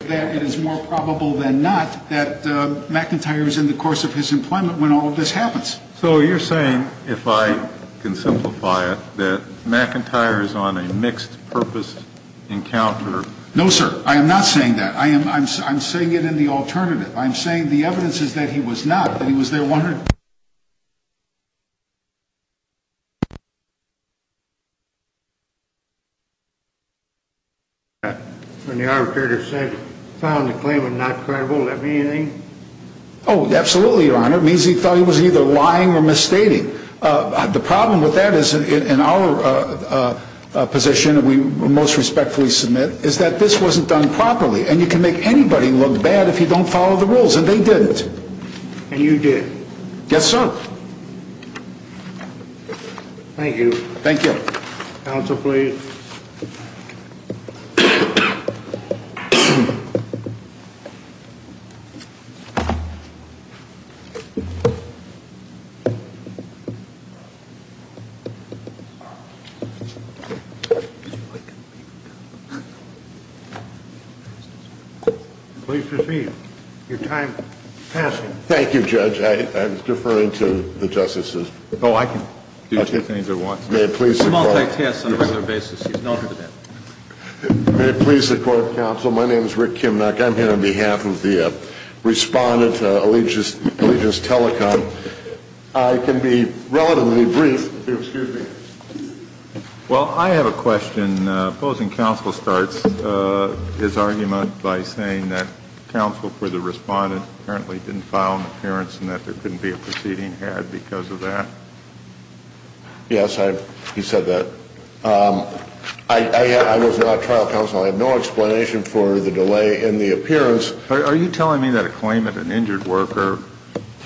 that it is more probable than not that McIntyre is in the course of his employment when all of this happens. So you're saying, if I can simplify it, that McIntyre is on a mixed-purpose encounter? No, sir. I am not saying that. I am saying it in the alternative. I am saying the evidence is that he was not, that he was there wondering. When the arbitrator said, found the claimant not credible, does that mean anything? Oh, absolutely, Your Honor. It means he thought he was either lying or misstating. The problem with that is, in our position that we most respectfully submit, is that this wasn't done properly. And you can make anybody look bad if you don't follow the rules, and they didn't. And you did. Yes, sir. Thank you. Thank you. Counsel, please. Please proceed. Your time is passing. Thank you, Judge. I was deferring to the justices. Oh, I can do two things at once. May it please the Court. It's a multitask on a regular basis. He's known for that. May it please the Court of Counsel. My name is Rick Kimnock. I'm here on behalf of the Respondent Allegiance Telecom. I can be relatively brief. Excuse me. Well, I have a question. Opposing counsel starts his argument by saying that counsel for the Respondent apparently didn't file an appearance and that there couldn't be a proceeding had because of that. Yes, he said that. I was not trial counsel. I have no explanation for the delay in the appearance. Are you telling me that a claimant, an injured worker,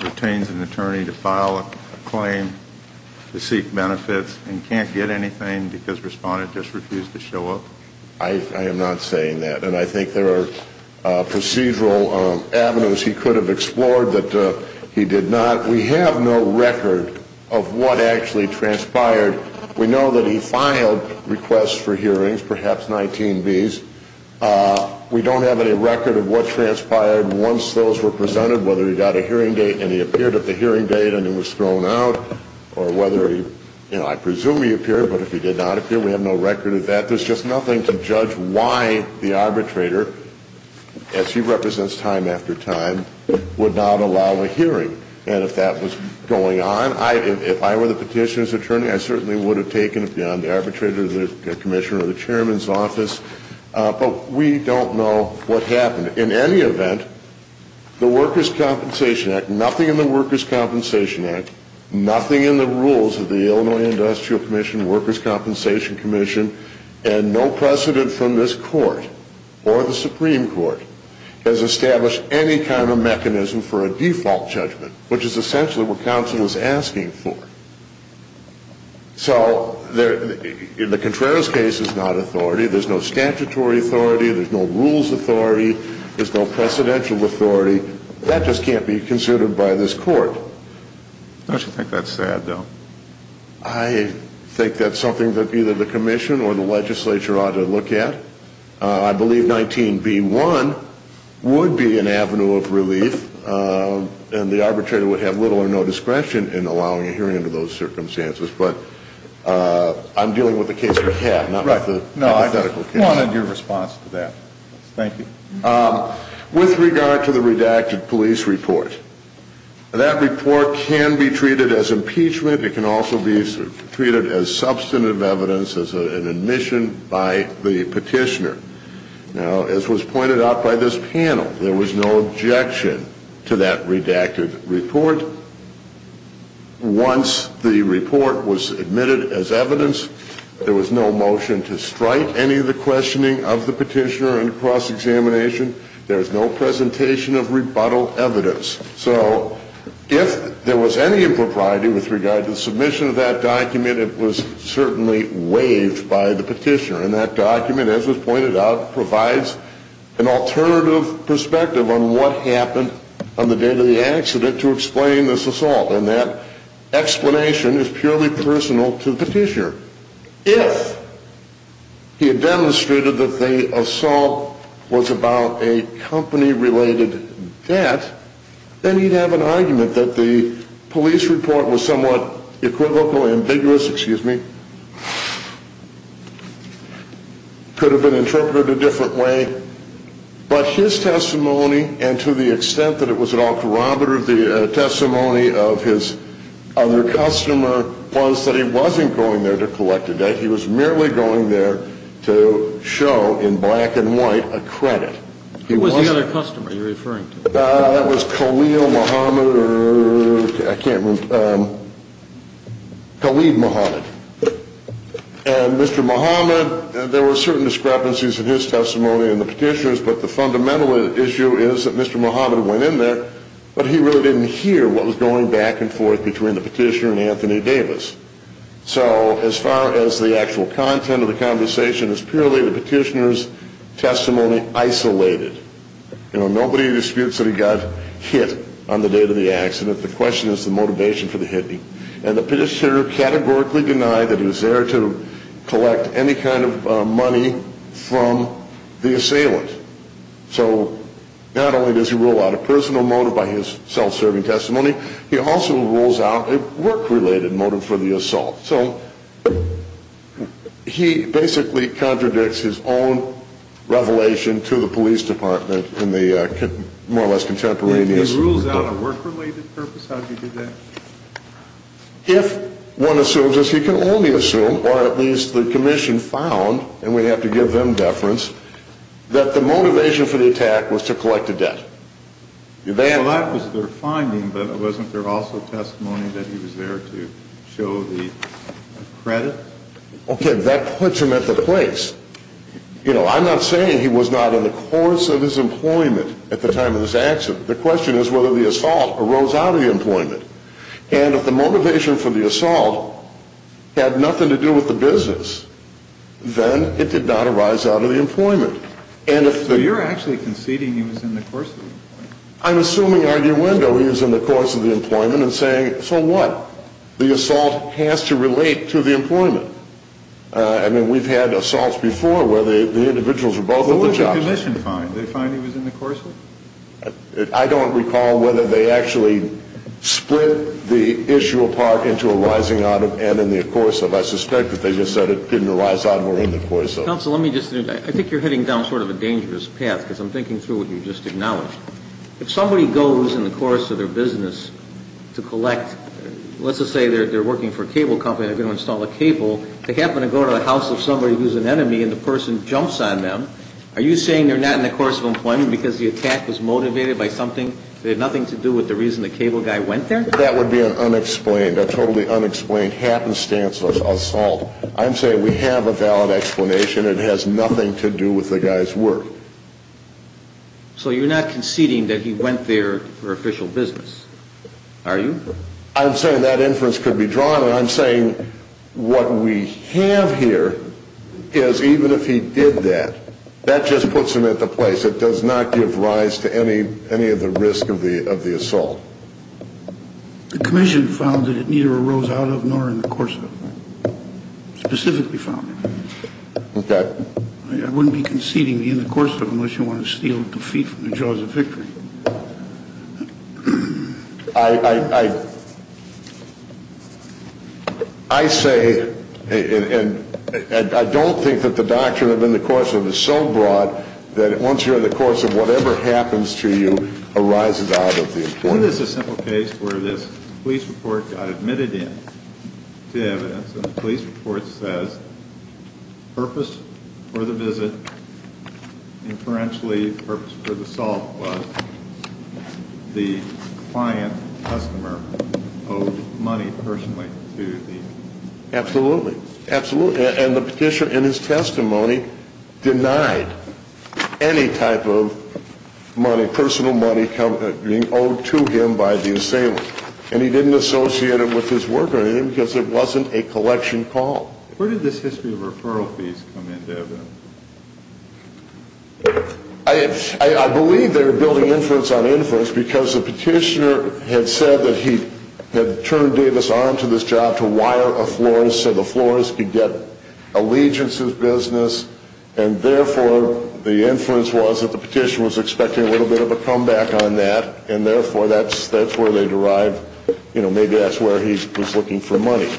retains an attorney to file a claim to seek benefits and can't get anything because Respondent just refused to show up? I am not saying that. And I think there are procedural avenues he could have explored that he did not. We have no record of what actually transpired. We know that he filed requests for hearings, perhaps 19Bs. We don't have any record of what transpired once those were presented, whether he got a hearing date and he appeared at the hearing date and he was thrown out or whether he, you know, I presume he appeared, but if he did not appear, we have no record of that. There's just nothing to judge why the arbitrator, as he represents time after time, would not allow a hearing. And if that was going on, if I were the petitioner's attorney, I certainly would have taken it beyond the arbitrator, the commissioner, or the chairman's office. But we don't know what happened. In any event, the Workers' Compensation Act, nothing in the Workers' Compensation Act, nothing in the rules of the Illinois Industrial Commission, Workers' Compensation Commission, and no precedent from this court or the Supreme Court has established any kind of mechanism for a default judgment, which is essentially what counsel is asking for. So in the Contreras case, it's not authority. There's no statutory authority. There's no rules authority. There's no precedential authority. That just can't be considered by this court. Don't you think that's sad, though? I think that's something that either the commission or the legislature ought to look at. I believe 19b1 would be an avenue of relief, and the arbitrator would have little or no discretion in allowing a hearing under those circumstances. But I'm dealing with the case at hand, not with the hypothetical case. No, I wanted your response to that. Thank you. With regard to the redacted police report, that report can be treated as impeachment. It can also be treated as substantive evidence, as an admission by the petitioner. Now, as was pointed out by this panel, there was no objection to that redacted report. Once the report was admitted as evidence, there was no motion to strike any of the questioning of the petitioner under cross-examination. There was no presentation of rebuttal evidence. So if there was any impropriety with regard to the submission of that document, it was certainly waived by the petitioner. And that document, as was pointed out, provides an alternative perspective on what happened on the day of the accident to explain this assault. And that explanation is purely personal to the petitioner. If he had demonstrated that the assault was about a company-related debt, then he'd have an argument that the police report was somewhat equivocal, ambiguous, excuse me, could have been interpreted a different way. But his testimony, and to the extent that it was at all corroborative, of his other customer was that he wasn't going there to collect a debt. He was merely going there to show, in black and white, a credit. Who was the other customer you're referring to? That was Khalil Muhammad, or I can't remember, Khalid Muhammad. And Mr. Muhammad, there were certain discrepancies in his testimony and the petitioner's, but the fundamental issue is that Mr. Muhammad went in there, but he really didn't hear what was going back and forth between the petitioner and Anthony Davis. So as far as the actual content of the conversation is purely the petitioner's testimony isolated. Nobody disputes that he got hit on the day of the accident. The question is the motivation for the hitting. And the petitioner categorically denied that he was there to collect any kind of money from the assailant. So not only does he rule out a personal motive by his self-serving testimony, he also rules out a work-related motive for the assault. So he basically contradicts his own revelation to the police department in the more or less contemporaneous. He rules out a work-related purpose? How did he do that? If one assumes, as he can only assume, or at least the commission found, and we have to give them deference, that the motivation for the attack was to collect the debt. Well, that was their finding, but wasn't there also testimony that he was there to show the credit? Okay, that puts him at the place. You know, I'm not saying he was not in the course of his employment at the time of this accident. The question is whether the assault arose out of the employment. And if the motivation for the assault had nothing to do with the business, then it did not arise out of the employment. So you're actually conceding he was in the course of the employment? I'm assuming arguendo he was in the course of the employment and saying, so what? The assault has to relate to the employment. I mean, we've had assaults before where the individuals were both on the job. What did the commission find? Did they find he was in the course of it? I don't recall whether they actually split the issue apart into arising out of and in the course of. I suspect that they just said it didn't arise out and were in the course of it. Counsel, let me just, I think you're heading down sort of a dangerous path because I'm thinking through what you just acknowledged. If somebody goes in the course of their business to collect, let's just say they're working for a cable company, they're going to install a cable, they happen to go to the house of somebody who's an enemy and the person jumps on them, are you saying they're not in the course of employment because the attack was motivated by something that had nothing to do with the reason the cable guy went there? That would be an unexplained, a totally unexplained happenstance assault. I'm saying we have a valid explanation. It has nothing to do with the guy's work. So you're not conceding that he went there for official business, are you? I'm saying that inference could be drawn and I'm saying what we have here is even if he did that, that just puts him at the place that does not give rise to any of the risk of the assault. The commission found that it neither arose out of nor in the course of it. Specifically found it. Okay. I wouldn't be conceding in the course of it unless you want to steal defeat from the jaws of victory. I say and I don't think that the doctrine of in the course of is so broad that once you're in the course of whatever happens to you arises out of the employment. It is a simple case where this police report got admitted in to evidence and the police report says purpose for the visit, inferentially purpose for the assault was the client customer owed money personally to the... And he didn't associate it with his work or anything because it wasn't a collection call. Where did this history of referral fees come into evidence? I believe they were building inference on inference because the petitioner had said that he had turned Davis on to this job to wire a florist so the florist could get allegiances business and therefore the inference was that the petitioner was expecting a little bit of a comeback on that and therefore that's where they derive, you know, maybe that's where he was looking for money.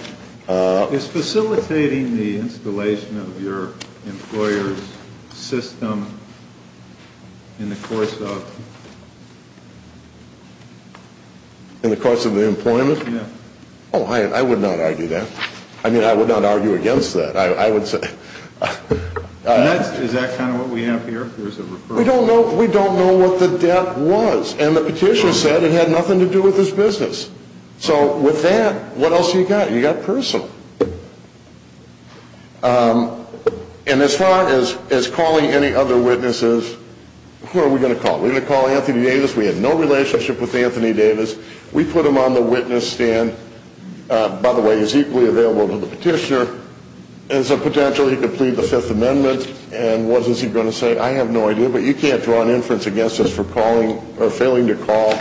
Is facilitating the installation of your employer's system in the course of... In the course of the employment? Yeah. Oh, I would not argue that. I mean, I would not argue against that. I would say... Is that kind of what we have here? We don't know what the debt was and the petitioner said it had nothing to do with his business. So with that, what else do you got? You got personal. And as far as calling any other witnesses, who are we going to call? Are we going to call Anthony Davis? We had no relationship with Anthony Davis. We put him on the witness stand. By the way, he's equally available to the petitioner. There's a potential he could plead the Fifth Amendment and what is he going to say? I have no idea, but you can't draw an inference against us for failing to call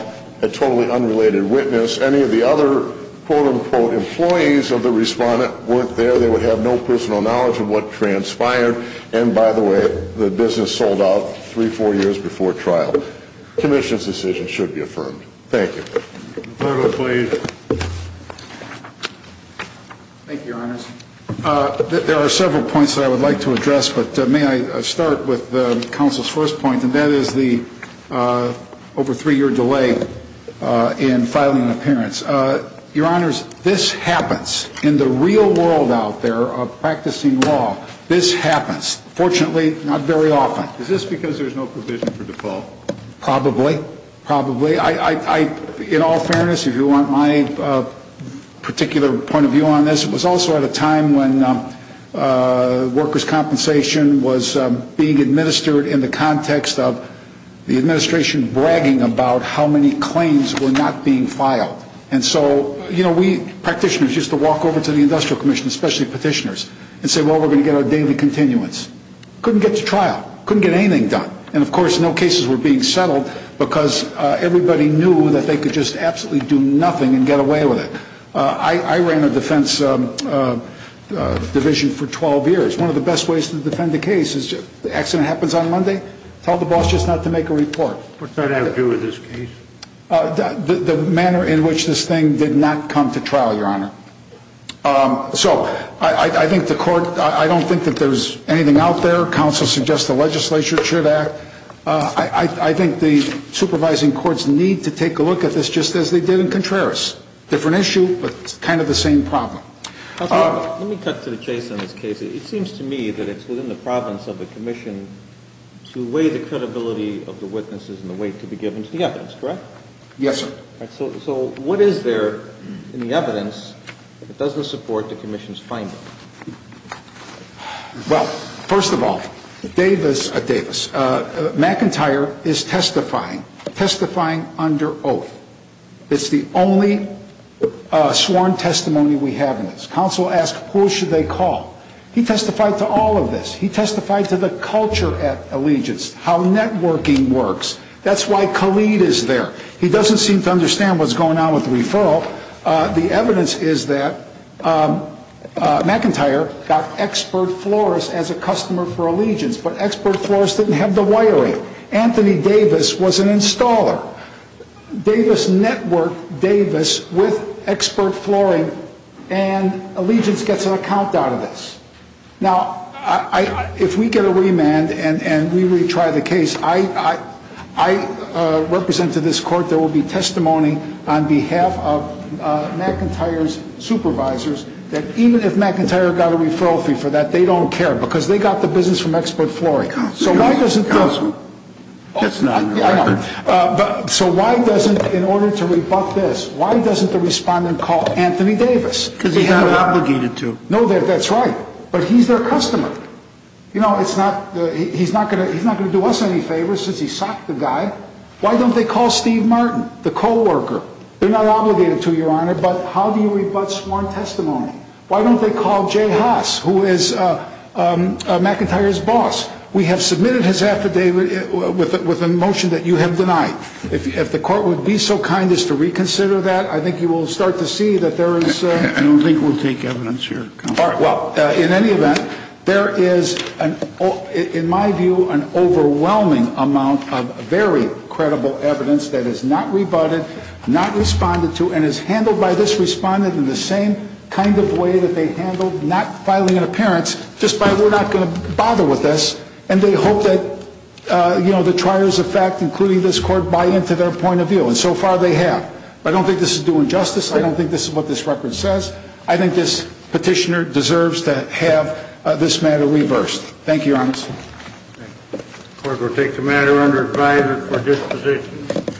a totally unrelated witness. Any of the other quote-unquote employees of the respondent weren't there. They would have no personal knowledge of what transpired. And by the way, the business sold out three, four years before trial. Commission's decision should be affirmed. Thank you. Thank you, Your Honors. There are several points that I would like to address, but may I start with the council's first point, and that is the over three-year delay in filing an appearance. Your Honors, this happens in the real world out there of practicing law. This happens, fortunately, not very often. Is this because there's no provision for default? Probably. Probably. In all fairness, if you want my particular point of view on this, it was also at a time when workers' compensation was being administered in the context of the administration bragging about how many claims were not being filed. And so, you know, we practitioners used to walk over to the Industrial Commission, especially petitioners, and say, well, we're going to get our daily continuance. Couldn't get to trial. Couldn't get anything done. And, of course, no cases were being settled because everybody knew that they could just absolutely do nothing and get away with it. I ran a defense division for 12 years. One of the best ways to defend a case is the accident happens on Monday. Tell the boss just not to make a report. What's that have to do with this case? The manner in which this thing did not come to trial, Your Honor. So I think the court, I don't think that there's anything out there. Our counsel suggests the legislature should act. I think the supervising courts need to take a look at this just as they did in Contreras. Different issue, but kind of the same problem. Let me cut to the chase on this case. It seems to me that it's within the province of the commission to weigh the credibility of the witnesses and the weight to be given to the evidence, correct? Yes, sir. So what is there in the evidence that doesn't support the commission's finding? Well, first of all, Davis, McIntyre is testifying, testifying under oath. It's the only sworn testimony we have in this. Counsel asked who should they call. He testified to all of this. He testified to the culture at Allegiance, how networking works. That's why Khalid is there. Now, the evidence is that McIntyre got expert florists as a customer for Allegiance, but expert florists didn't have the wiring. Anthony Davis was an installer. Davis networked Davis with expert flooring, and Allegiance gets an account out of this. Now, if we get a remand and we retry the case, I represent to this court there will be testimony on behalf of McIntyre's supervisors that even if McIntyre got a referral fee for that, they don't care because they got the business from expert flooring. So why doesn't this? That's not right. So why doesn't, in order to rebut this, why doesn't the respondent call Anthony Davis? Because he's not obligated to. No, that's right. But he's their customer. You know, he's not going to do us any favors since he socked the guy. Why don't they call Steve Martin, the co-worker? They're not obligated to, Your Honor, but how do you rebut sworn testimony? Why don't they call Jay Haas, who is McIntyre's boss? We have submitted his affidavit with a motion that you have denied. If the court would be so kind as to reconsider that, I think you will start to see that there is ‑‑ I don't think we'll take evidence here. All right, well, in any event, there is, in my view, an overwhelming amount of very credible evidence that is not rebutted, not responded to, and is handled by this respondent in the same kind of way that they handled not filing an appearance, just by we're not going to bother with this, and they hope that, you know, the triers of fact, including this court, buy into their point of view. And so far they have. I don't think this is due injustice. I don't think this is what this record says. I think this petitioner deserves to have this matter reversed. Thank you, Your Honor. The court will take the matter under advisement for disposition.